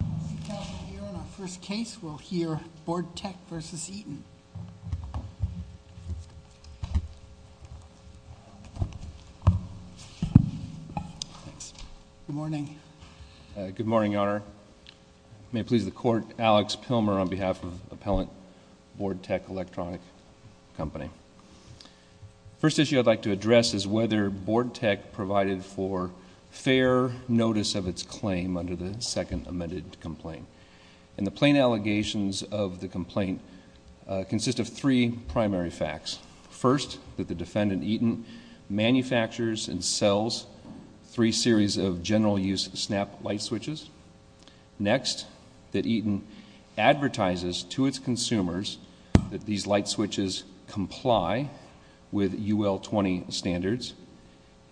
We're on our first case. We'll hear Board-Tech v. Eaton. Good morning. Good morning, Your Honor. May it please the Court, Alex Pilmer on behalf of Appellant Board-Tech Electronic Co. The first issue I'd like to address is whether Board-Tech provided for fair notice of its claim under the second amended complaint. And the plain allegations of the complaint consist of three primary facts. First, that the defendant, Eaton, manufactures and sells three series of general-use snap light switches. Next, that Eaton advertises to its consumers that these light switches comply with UL 20 standards.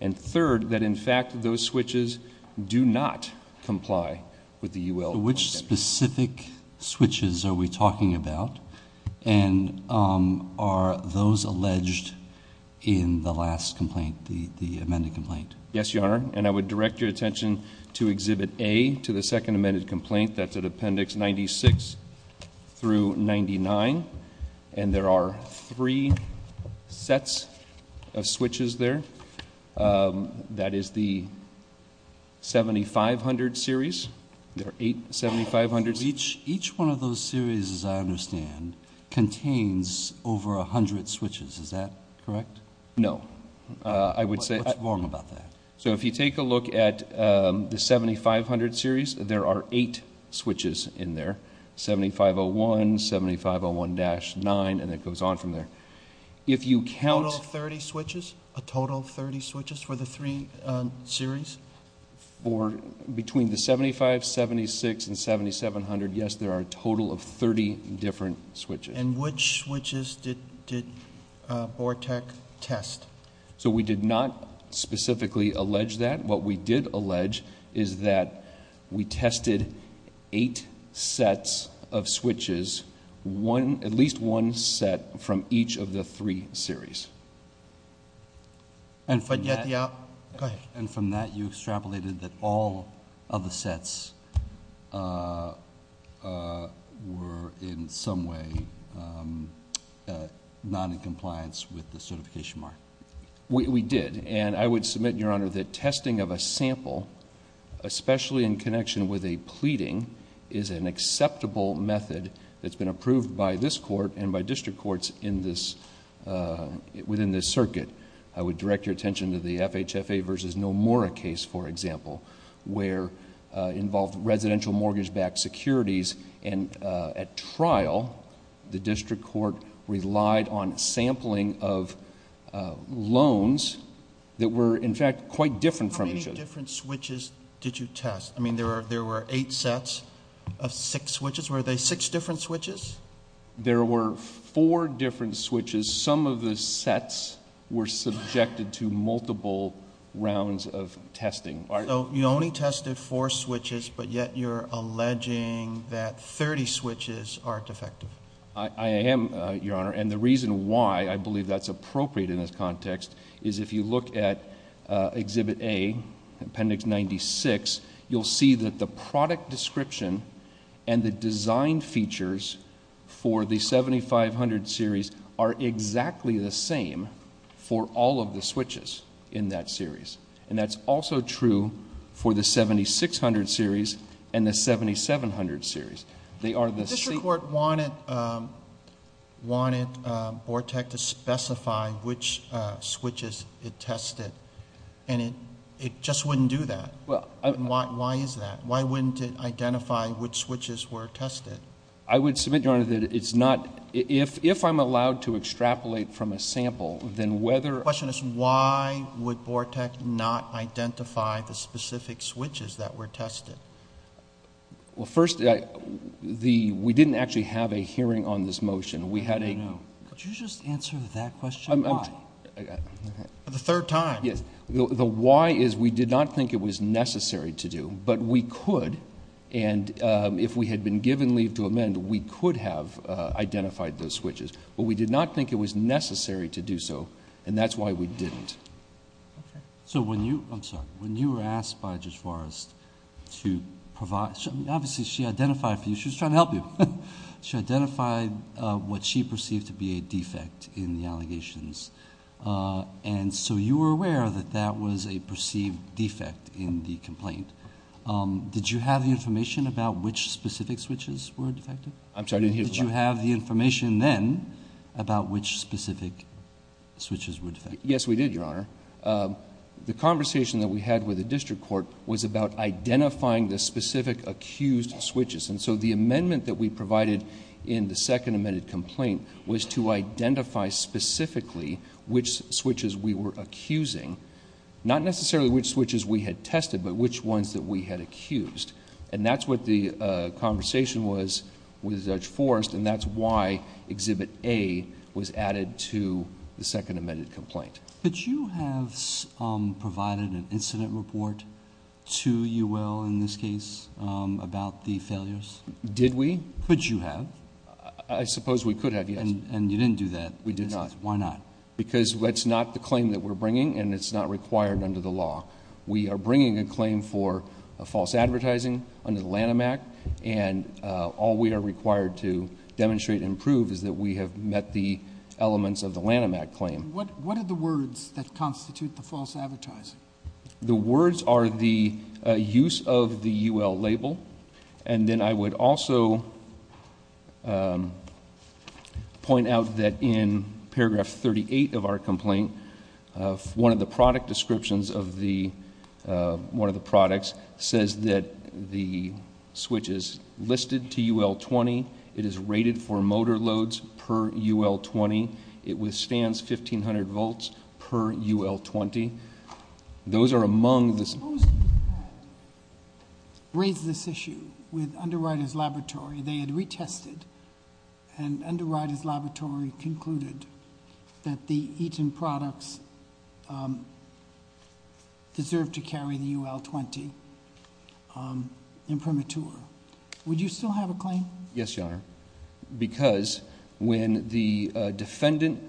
And third, that in fact those switches do not comply with the UL 20 standards. Which specific switches are we talking about? And are those alleged in the last complaint, the amended complaint? Yes, Your Honor. And I would direct your attention to Exhibit A to the second amended complaint. That's at Appendix 96 through 99. And there are three sets of switches there. That is the 7500 series. There are eight 7500s. Each one of those series, as I understand, contains over 100 switches. Is that correct? No. I would say- What's wrong about that? So if you take a look at the 7500 series, there are eight switches in there. 7501, 7501-9, and it goes on from there. If you count- A total of 30 switches? A total of 30 switches for the three series? Between the 75, 76, and 7700, yes, there are a total of 30 different switches. And which switches did BORTEC test? So we did not specifically allege that. What we did allege is that we tested eight sets of switches, at least one set from each of the three series. But yet the- Go ahead. Not in compliance with the certification mark. We did. And I would submit, Your Honor, that testing of a sample, especially in connection with a pleading, is an acceptable method that's been approved by this court and by district courts within this circuit. I would direct your attention to the FHFA versus Nomura case, for example, where it involved residential mortgage-backed securities. And at trial, the district court relied on sampling of loans that were, in fact, quite different from each other. How many different switches did you test? I mean, there were eight sets of six switches. Were they six different switches? There were four different switches. Some of the sets were subjected to multiple rounds of testing. So you only tested four switches, but yet you're alleging that 30 switches aren't effective. I am, Your Honor. And the reason why I believe that's appropriate in this context is if you look at Exhibit A, Appendix 96, you'll see that the product description and the design features for the 7500 series are exactly the same for all of the switches in that series. And that's also true for the 7600 series and the 7700 series. The district court wanted BORTEC to specify which switches it tested, and it just wouldn't do that. Why is that? Why wouldn't it identify which switches were tested? I would submit, Your Honor, that it's not. If I'm allowed to extrapolate from a sample, then whether— My question is why would BORTEC not identify the specific switches that were tested? Well, first, we didn't actually have a hearing on this motion. We had a— No, no, no. Could you just answer that question, why? The third time. Yes. The why is we did not think it was necessary to do, but we could. And if we had been given leave to amend, we could have identified those switches. But we did not think it was necessary to do so, and that's why we didn't. Okay. So when you—I'm sorry. When you were asked by Judge Forrest to provide—obviously, she identified for you. She was trying to help you. She identified what she perceived to be a defect in the allegations. And so you were aware that that was a perceived defect in the complaint. Did you have the information about which specific switches were defective? I'm sorry, I didn't hear the question. Did you have the information then about which specific switches were defective? Yes, we did, Your Honor. The conversation that we had with the district court was about identifying the specific accused switches. And so the amendment that we provided in the second amended complaint was to identify specifically which switches we were accusing. Not necessarily which switches we had tested, but which ones that we had accused. And that's what the conversation was with Judge Forrest, and that's why Exhibit A was added to the second amended complaint. Could you have provided an incident report to UL in this case about the failures? Did we? Could you have? I suppose we could have, yes. And you didn't do that. We did not. Why not? Because that's not the claim that we're bringing, and it's not required under the law. We are bringing a claim for false advertising under the Lanham Act, and all we are required to demonstrate and prove is that we have met the elements of the Lanham Act claim. What are the words that constitute the false advertising? The words are the use of the UL label. And then I would also point out that in paragraph 38 of our complaint, one of the product descriptions of the one of the products says that the switch is listed to UL 20. It is rated for motor loads per UL 20. It withstands 1,500 volts per UL 20. Those are among the... Suppose you had raised this issue with Underwriters Laboratory. They had retested, and Underwriters Laboratory concluded that the Eaton products deserved to carry the UL 20 in premature. Would you still have a claim? Yes, Your Honor, because when the defendant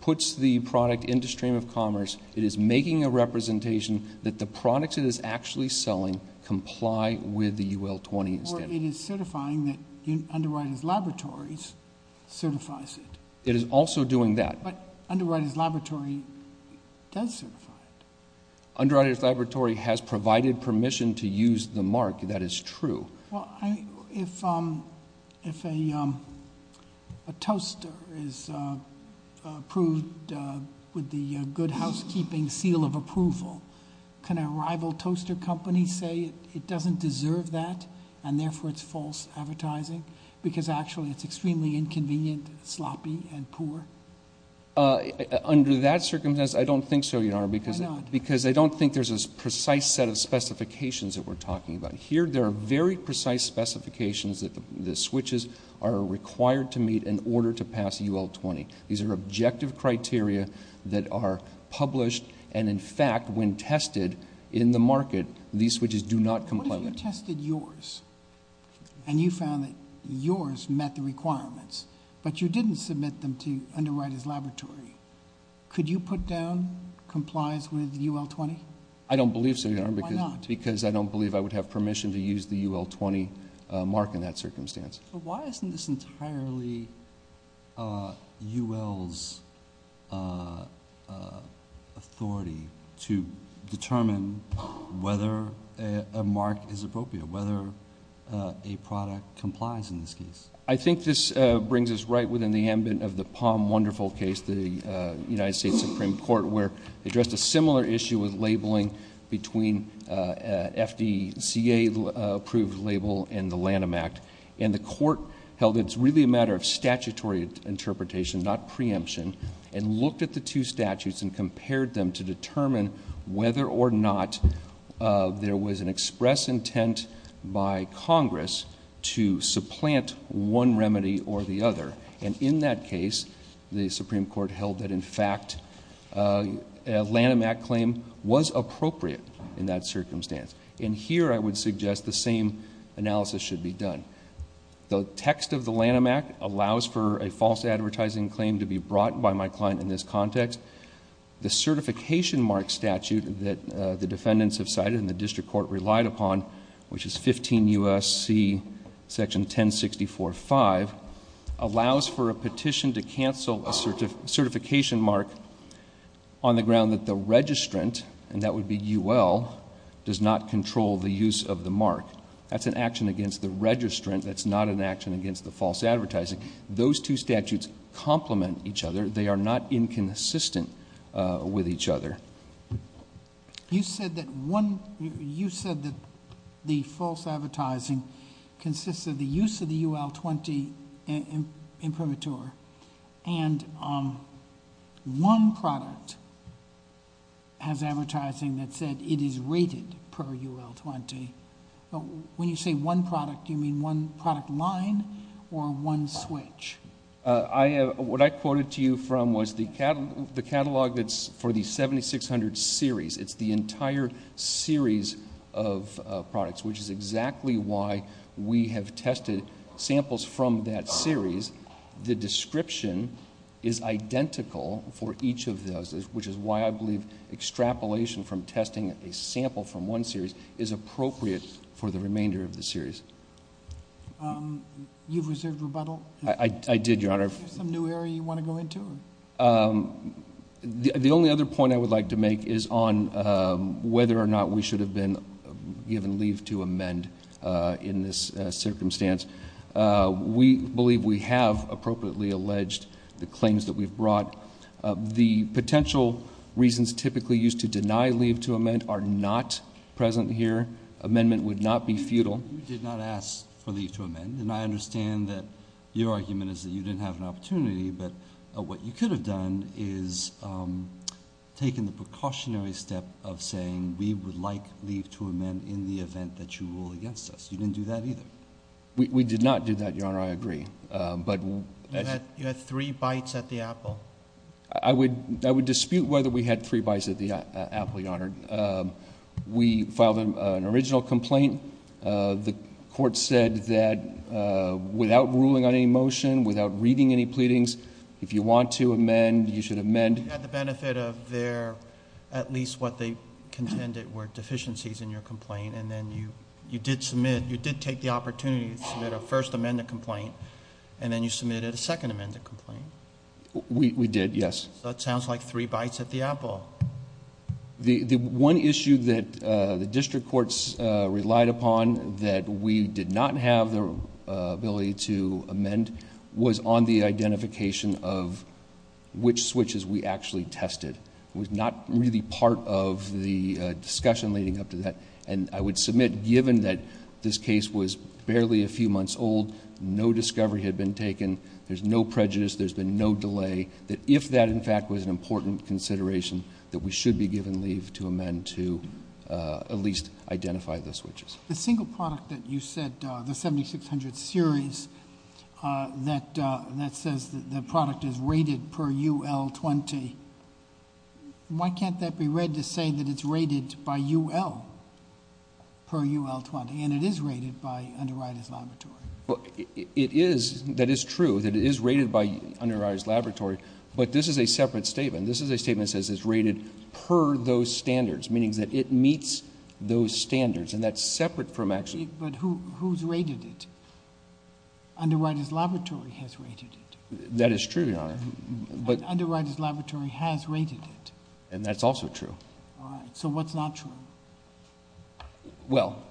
puts the product into stream of commerce, it is making a representation that the products it is actually selling comply with the UL 20 standard. Or it is certifying that Underwriters Laboratories certifies it. It is also doing that. But Underwriters Laboratory does certify it. Underwriters Laboratory has provided permission to use the mark. That is true. Well, if a toaster is approved with the good housekeeping seal of approval, can a rival toaster company say it doesn't deserve that, and therefore it is false advertising, because actually it is extremely inconvenient, sloppy, and poor? Under that circumstance, I don't think so, Your Honor. Why not? Because I don't think there is a precise set of specifications that we are talking about. Here there are very precise specifications that the switches are required to meet in order to pass UL 20. These are objective criteria that are published. And, in fact, when tested in the market, these switches do not comply. What if you tested yours and you found that yours met the requirements, but you didn't submit them to Underwriters Laboratory? Could you put down complies with UL 20? I don't believe so, Your Honor. Why not? Because I don't believe I would have permission to use the UL 20 mark in that circumstance. Why isn't this entirely UL's authority to determine whether a mark is appropriate, whether a product complies in this case? I think this brings us right within the ambit of the Palm Wonderful case, the United States Supreme Court, where they addressed a similar issue with labeling between FDCA-approved label and the Lanham Act. The court held it's really a matter of statutory interpretation, not preemption, and looked at the two statutes and compared them to determine whether or not there was an express intent by Congress to supplant one remedy or the other. In that case, the Supreme Court held that, in fact, a Lanham Act claim was appropriate in that circumstance. Here, I would suggest the same analysis should be done. The text of the Lanham Act allows for a false advertising claim to be brought by my client in this context. The certification mark statute that the defendants have cited and the district court relied upon, which is 15 U.S.C. section 1064-5, allows for a petition to cancel a certification mark on the ground that the registrant, and that would be UL, does not control the use of the mark. That's an action against the registrant. That's not an action against the false advertising. Those two statutes complement each other. They are not inconsistent with each other. You said that the false advertising consists of the use of the UL-20 imprimatur, and one product has advertising that said it is rated per UL-20. When you say one product, do you mean one product line or one switch? What I quoted to you from was the catalog that's for the 7600 series. It's the entire series of products, which is exactly why we have tested samples from that series. The description is identical for each of those, which is why I believe extrapolation from testing a sample from one series is appropriate for the remainder of the series. You've reserved rebuttal? I did, Your Honor. Is there some new area you want to go into? The only other point I would like to make is on whether or not we should have been given leave to amend in this circumstance. We believe we have appropriately alleged the claims that we've brought. The potential reasons typically used to deny leave to amend are not present here. Amendment would not be futile. You did not ask for leave to amend, and I understand that your argument is that you didn't have an opportunity, but what you could have done is taken the precautionary step of saying we would like leave to amend in the event that you rule against us. You didn't do that either. We did not do that, Your Honor. I agree. You had three bites at the apple. I would dispute whether we had three bites at the apple, Your Honor. We filed an original complaint. The court said that without ruling on any motion, without reading any pleadings, if you want to amend, you should amend. You had the benefit of there at least what they contended were deficiencies in your complaint, and then you did take the opportunity to submit a First Amendment complaint, and then you submitted a Second Amendment complaint. We did, yes. That sounds like three bites at the apple. The one issue that the district courts relied upon that we did not have the ability to amend was on the identification of which switches we actually tested. It was not really part of the discussion leading up to that, and I would submit given that this case was barely a few months old, no discovery had been taken, there's no prejudice, there's been no delay, that if that, in fact, was an important consideration, that we should be given leave to amend to at least identify the switches. The single product that you said, the 7600 series, that says the product is rated per UL 20, why can't that be read to say that it's rated by UL per UL 20, and it is rated by Underwriters Laboratory? It is. That is true that it is rated by Underwriters Laboratory, but this is a separate statement. This is a statement that says it's rated per those standards, meaning that it meets those standards, and that's separate from action. But who's rated it? Underwriters Laboratory has rated it. That is true, Your Honor. Underwriters Laboratory has rated it. And that's also true. All right. So what's not true? Well,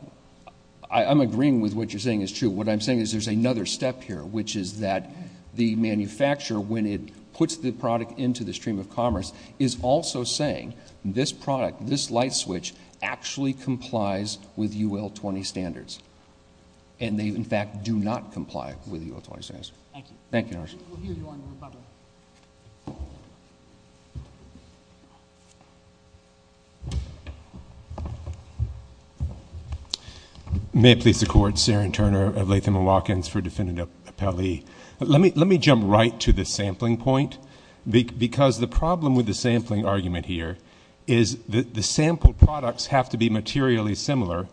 I'm agreeing with what you're saying is true. What I'm saying is there's another step here, which is that the manufacturer, when it puts the product into the stream of commerce, is also saying this product, this light switch, actually complies with UL 20 standards, and they, in fact, do not comply with UL 20 standards. Thank you. Thank you, Your Honor. We'll hear you on the rebuttal. May it please the Court. Saren Turner of Latham & Watkins for Defendant Appellee. Let me jump right to the sampling point because the problem with the sampling argument here is that the sample products have to be materially similar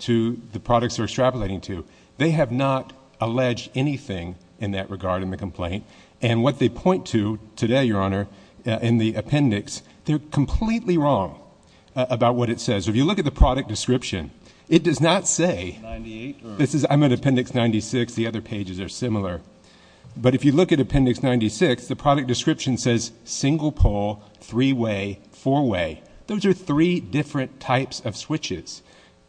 to the products they're extrapolating to. They have not alleged anything in that regard in the complaint. And what they point to today, Your Honor, in the appendix, they're completely wrong about what it says. If you look at the product description, it does not say, I'm at appendix 96. The other pages are similar. But if you look at appendix 96, the product description says single pole, three-way, four-way. Those are three different types of switches,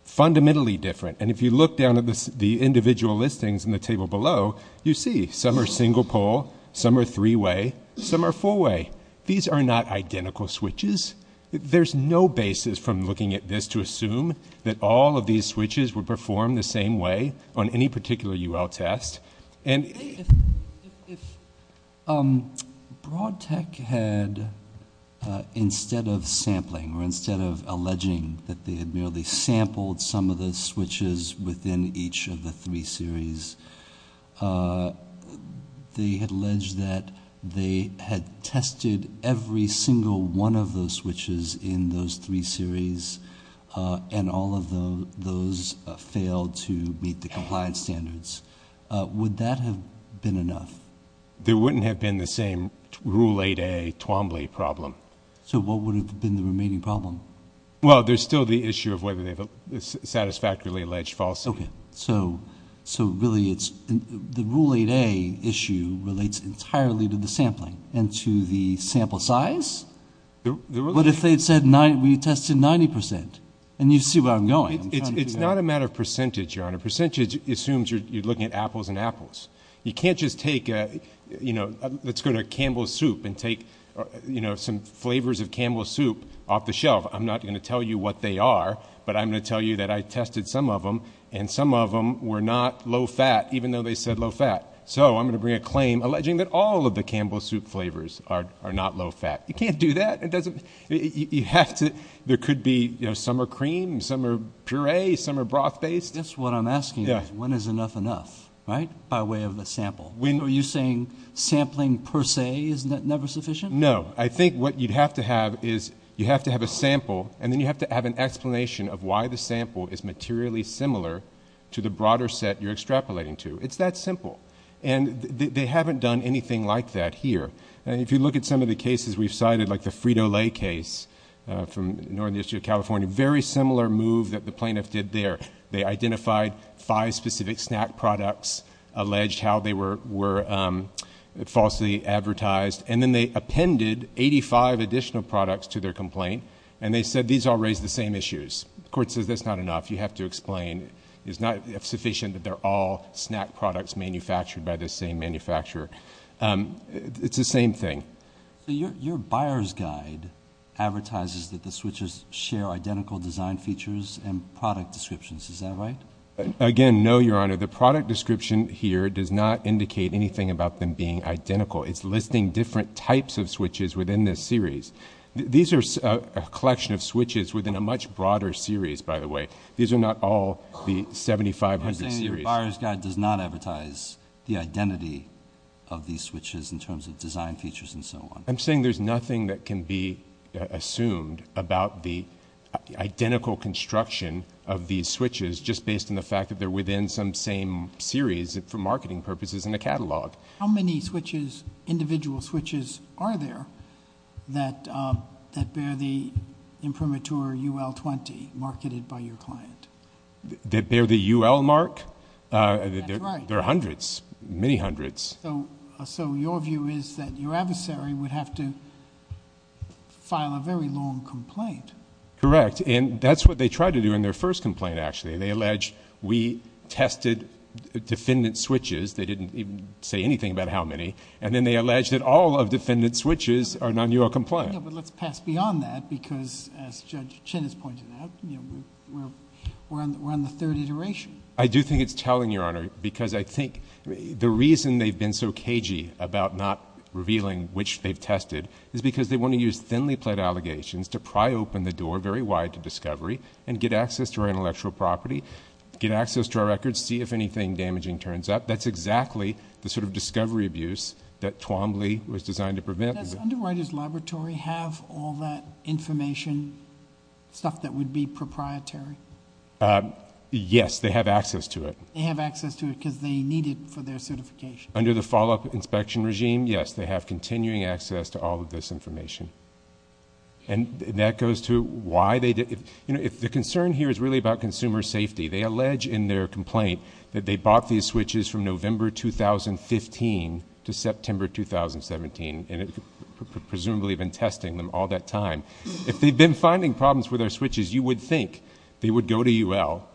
fundamentally different. And if you look down at the individual listings in the table below, you see some are single pole, some are three-way, some are four-way. These are not identical switches. There's no basis from looking at this to assume that all of these switches were performed the same way on any particular UL test. If Broad Tech had, instead of sampling or instead of alleging that they had merely sampled some of the switches within each of the three series, they had alleged that they had tested every single one of those switches in those three series, and all of those failed to meet the compliance standards, would that have been enough? There wouldn't have been the same Rule 8A Twombly problem. So what would have been the remaining problem? Well, there's still the issue of whether they've satisfactorily alleged falsity. Okay. So really, the Rule 8A issue relates entirely to the sampling and to the sample size? What if they had said we tested 90 percent? And you see where I'm going. It's not a matter of percentage, Your Honor. Percentage assumes you're looking at apples and apples. You can't just take, you know, let's go to Campbell's Soup and take, you know, some flavors of Campbell's Soup off the shelf. I'm not going to tell you what they are, but I'm going to tell you that I tested some of them, and some of them were not low-fat, even though they said low-fat. So I'm going to bring a claim alleging that all of the Campbell's Soup flavors are not low-fat. You can't do that. You have to. There could be, you know, some are cream, some are puree, some are broth-based. That's what I'm asking is when is enough enough, right, by way of the sample? Are you saying sampling per se is never sufficient? No. I think what you'd have to have is you have to have a sample, and then you have to have an explanation of why the sample is materially similar to the broader set you're extrapolating to. It's that simple. And they haven't done anything like that here. If you look at some of the cases we've cited, like the Frito-Lay case from Northern District of California, very similar move that the plaintiff did there. They identified five specific snack products, alleged how they were falsely advertised, and then they appended 85 additional products to their complaint, and they said these all raised the same issues. The court says that's not enough. You have to explain. It's not sufficient that they're all snack products manufactured by the same manufacturer. It's the same thing. So your buyer's guide advertises that the switches share identical design features and product descriptions. Is that right? Again, no, Your Honor. The product description here does not indicate anything about them being identical. It's listing different types of switches within this series. These are a collection of switches within a much broader series, by the way. These are not all the 7,500 series. The buyer's guide does not advertise the identity of these switches in terms of design features and so on. I'm saying there's nothing that can be assumed about the identical construction of these switches just based on the fact that they're within some same series for marketing purposes in a catalog. How many switches, individual switches, are there that bear the imprimatur UL 20 marketed by your client? That bear the UL mark? That's right. There are hundreds, many hundreds. So your view is that your adversary would have to file a very long complaint. Correct. And that's what they tried to do in their first complaint, actually. They alleged we tested defendant switches. They didn't even say anything about how many. And then they alleged that all of defendant switches are non-UL compliant. Yeah, but let's pass beyond that because, as Judge Chin has pointed out, we're on the third iteration. I do think it's telling, Your Honor, because I think the reason they've been so cagey about not revealing which they've tested is because they want to use thinly-plaid allegations to pry open the door very wide to discovery and get access to our intellectual property, get access to our records, see if anything damaging turns up. That's exactly the sort of discovery abuse that Twombly was designed to prevent. Does Underwriters Laboratory have all that information, stuff that would be proprietary? Yes, they have access to it. They have access to it because they need it for their certification. Under the follow-up inspection regime, yes, they have continuing access to all of this information. And that goes to why they did...... presumably have been testing them all that time. If they've been finding problems with our switches, you would think they would go to UL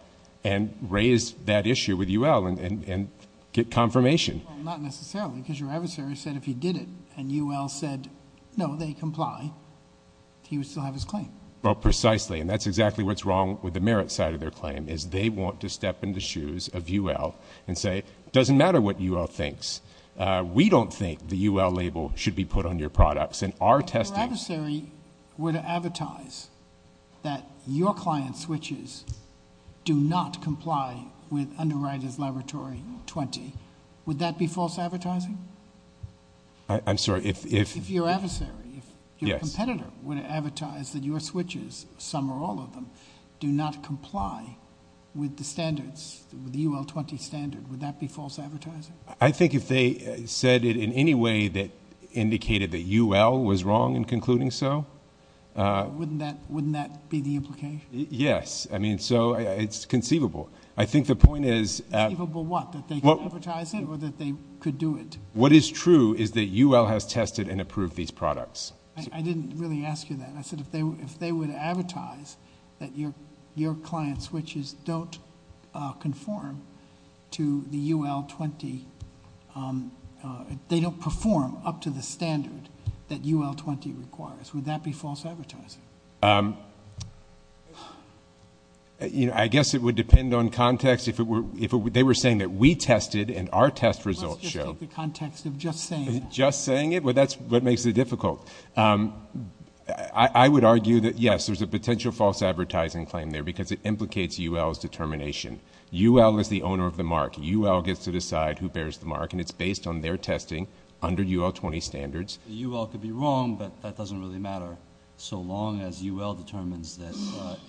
and raise that issue with UL and get confirmation. Well, not necessarily because your adversary said if he did it and UL said, no, they comply, he would still have his claim. Well, precisely. And that's exactly what's wrong with the merit side of their claim is they want to step in the shoes of UL and say, it doesn't matter what UL thinks. We don't think the UL label should be put on your products. And our testing... If your adversary were to advertise that your client's switches do not comply with Underwriters Laboratory 20, would that be false advertising? I'm sorry, if... If your adversary, if your competitor were to advertise that your switches, some or all of them, do not comply with the standards, with the UL 20 standard, would that be false advertising? I think if they said it in any way that indicated that UL was wrong in concluding so... Wouldn't that be the implication? Yes. I mean, so it's conceivable. I think the point is... Conceivable what? That they can advertise it or that they could do it? What is true is that UL has tested and approved these products. I didn't really ask you that. I said, if they would advertise that your client's switches don't conform to the UL 20, they don't perform up to the standard that UL 20 requires, would that be false advertising? I guess it would depend on context. If they were saying that we tested and our test results show... Let's just take the context of just saying it. Just saying it? Well, that's what makes it difficult. I would argue that, yes, there's a potential false advertising claim there because it implicates UL's determination. UL is the owner of the mark. UL gets to decide who bears the mark, and it's based on their testing under UL 20 standards. UL could be wrong, but that doesn't really matter. So long as UL determines that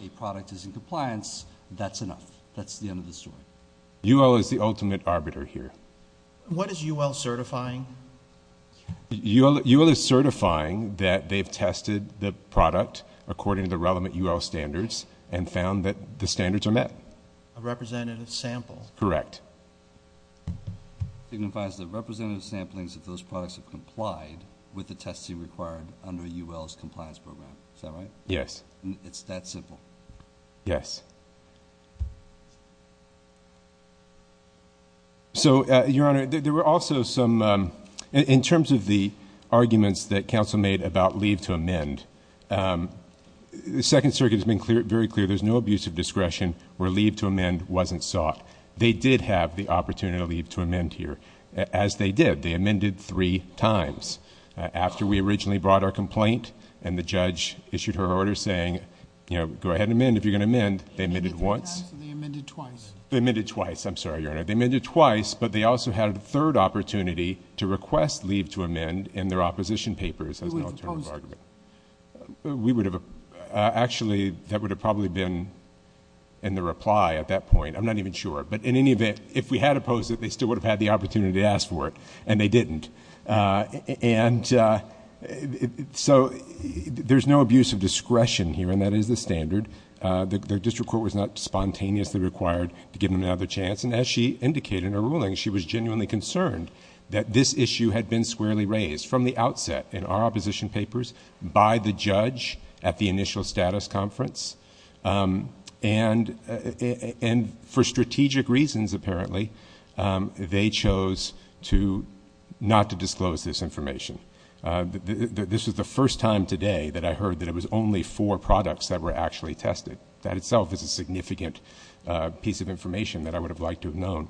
a product is in compliance, that's enough. That's the end of the story. UL is the ultimate arbiter here. What is UL certifying? UL is certifying that they've tested the product according to the relevant UL standards and found that the standards are met. A representative sample. Correct. It signifies that representative samplings of those products have complied with the testing required under UL's compliance program. Is that right? Yes. It's that simple? Yes. So, Your Honor, there were also some, in terms of the arguments that counsel made about leave to amend, the Second Circuit has been very clear there's no abuse of discretion where leave to amend wasn't sought. They did have the opportunity to leave to amend here, as they did. They amended three times. After we originally brought our complaint and the judge issued her order saying, you know, go ahead and amend if you're going to amend, they amended once. They amended twice. They amended twice. I'm sorry, Your Honor. They amended twice, but they also had a third opportunity to request leave to amend in their opposition papers as an alternative argument. We would have opposed it. Actually, that would have probably been in the reply at that point. I'm not even sure. But in any event, if we had opposed it, they still would have had the opportunity to ask for it, and they didn't. And so there's no abuse of discretion here, and that is the standard. The district court was not spontaneously required to give them another chance. And as she indicated in her ruling, she was genuinely concerned that this issue had been squarely raised from the outset in our opposition papers by the judge at the initial status conference. And for strategic reasons, apparently, they chose not to disclose this information. This was the first time today that I heard that it was only four products that were actually tested. That itself is a significant piece of information that I would have liked to have known.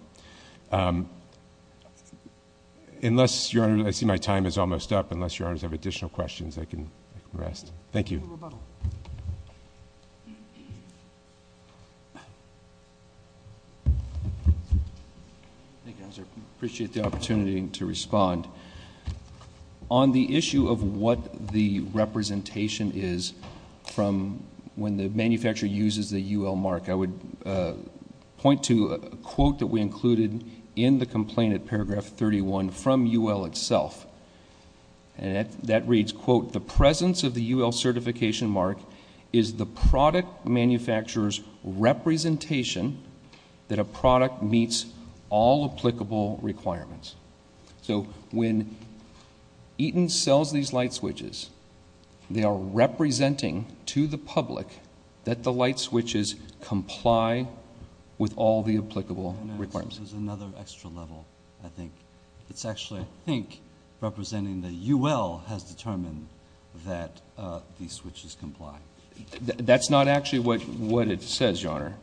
Unless, Your Honor, I see my time is almost up. Unless Your Honors have additional questions, I can rest. Thank you. Any rebuttal? I appreciate the opportunity to respond. On the issue of what the representation is from when the manufacturer uses the UL mark, I would point to a quote that we included in the complaint at paragraph 31 from UL itself. And that reads, quote, the presence of the UL certification mark is the product manufacturer's representation that a product meets all applicable requirements. So when Eaton sells these light switches, they are representing to the public that the light switches comply with all the applicable requirements. This is another extra level, I think. It's actually, I think, representing the UL has determined that these switches comply. That's not actually what it says, Your Honor.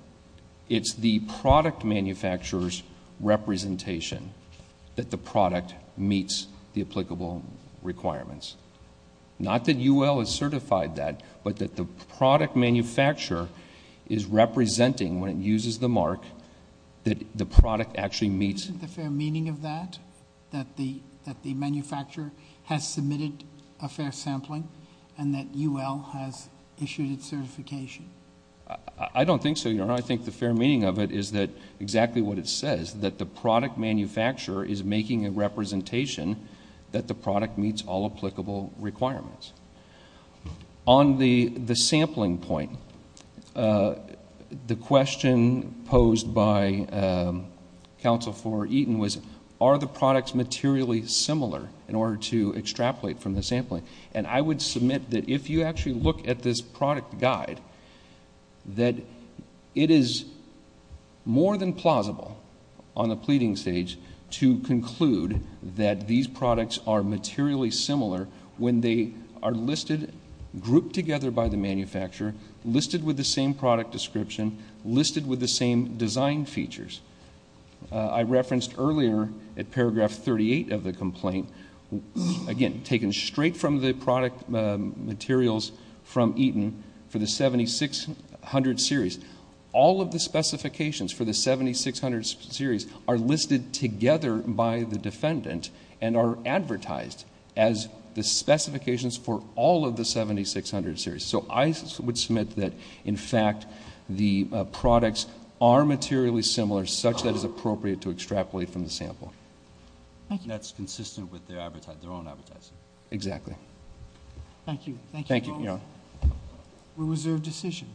It's the product manufacturer's representation that the product meets the applicable requirements. Not that UL has certified that, but that the product manufacturer is representing when it uses the mark that the product actually meets. Isn't the fair meaning of that? That the manufacturer has submitted a fair sampling and that UL has issued its certification? I don't think so, Your Honor. Your Honor, I think the fair meaning of it is that exactly what it says, that the product manufacturer is making a representation that the product meets all applicable requirements. On the sampling point, the question posed by counsel for Eaton was, are the products materially similar in order to extrapolate from the sampling? I would submit that if you actually look at this product guide, that it is more than plausible on the pleading stage to conclude that these products are materially similar when they are grouped together by the manufacturer, listed with the same product description, listed with the same design features. I referenced earlier at paragraph 38 of the complaint, again, taken straight from the product materials from Eaton for the 7600 series. All of the specifications for the 7600 series are listed together by the defendant and are advertised as the specifications for all of the 7600 series. So I would submit that, in fact, the products are materially similar, such that it is appropriate to extrapolate from the sample. Thank you. And that's consistent with their own advertising. Exactly. Thank you. Thank you. Thank you, Your Honor. We reserve decision.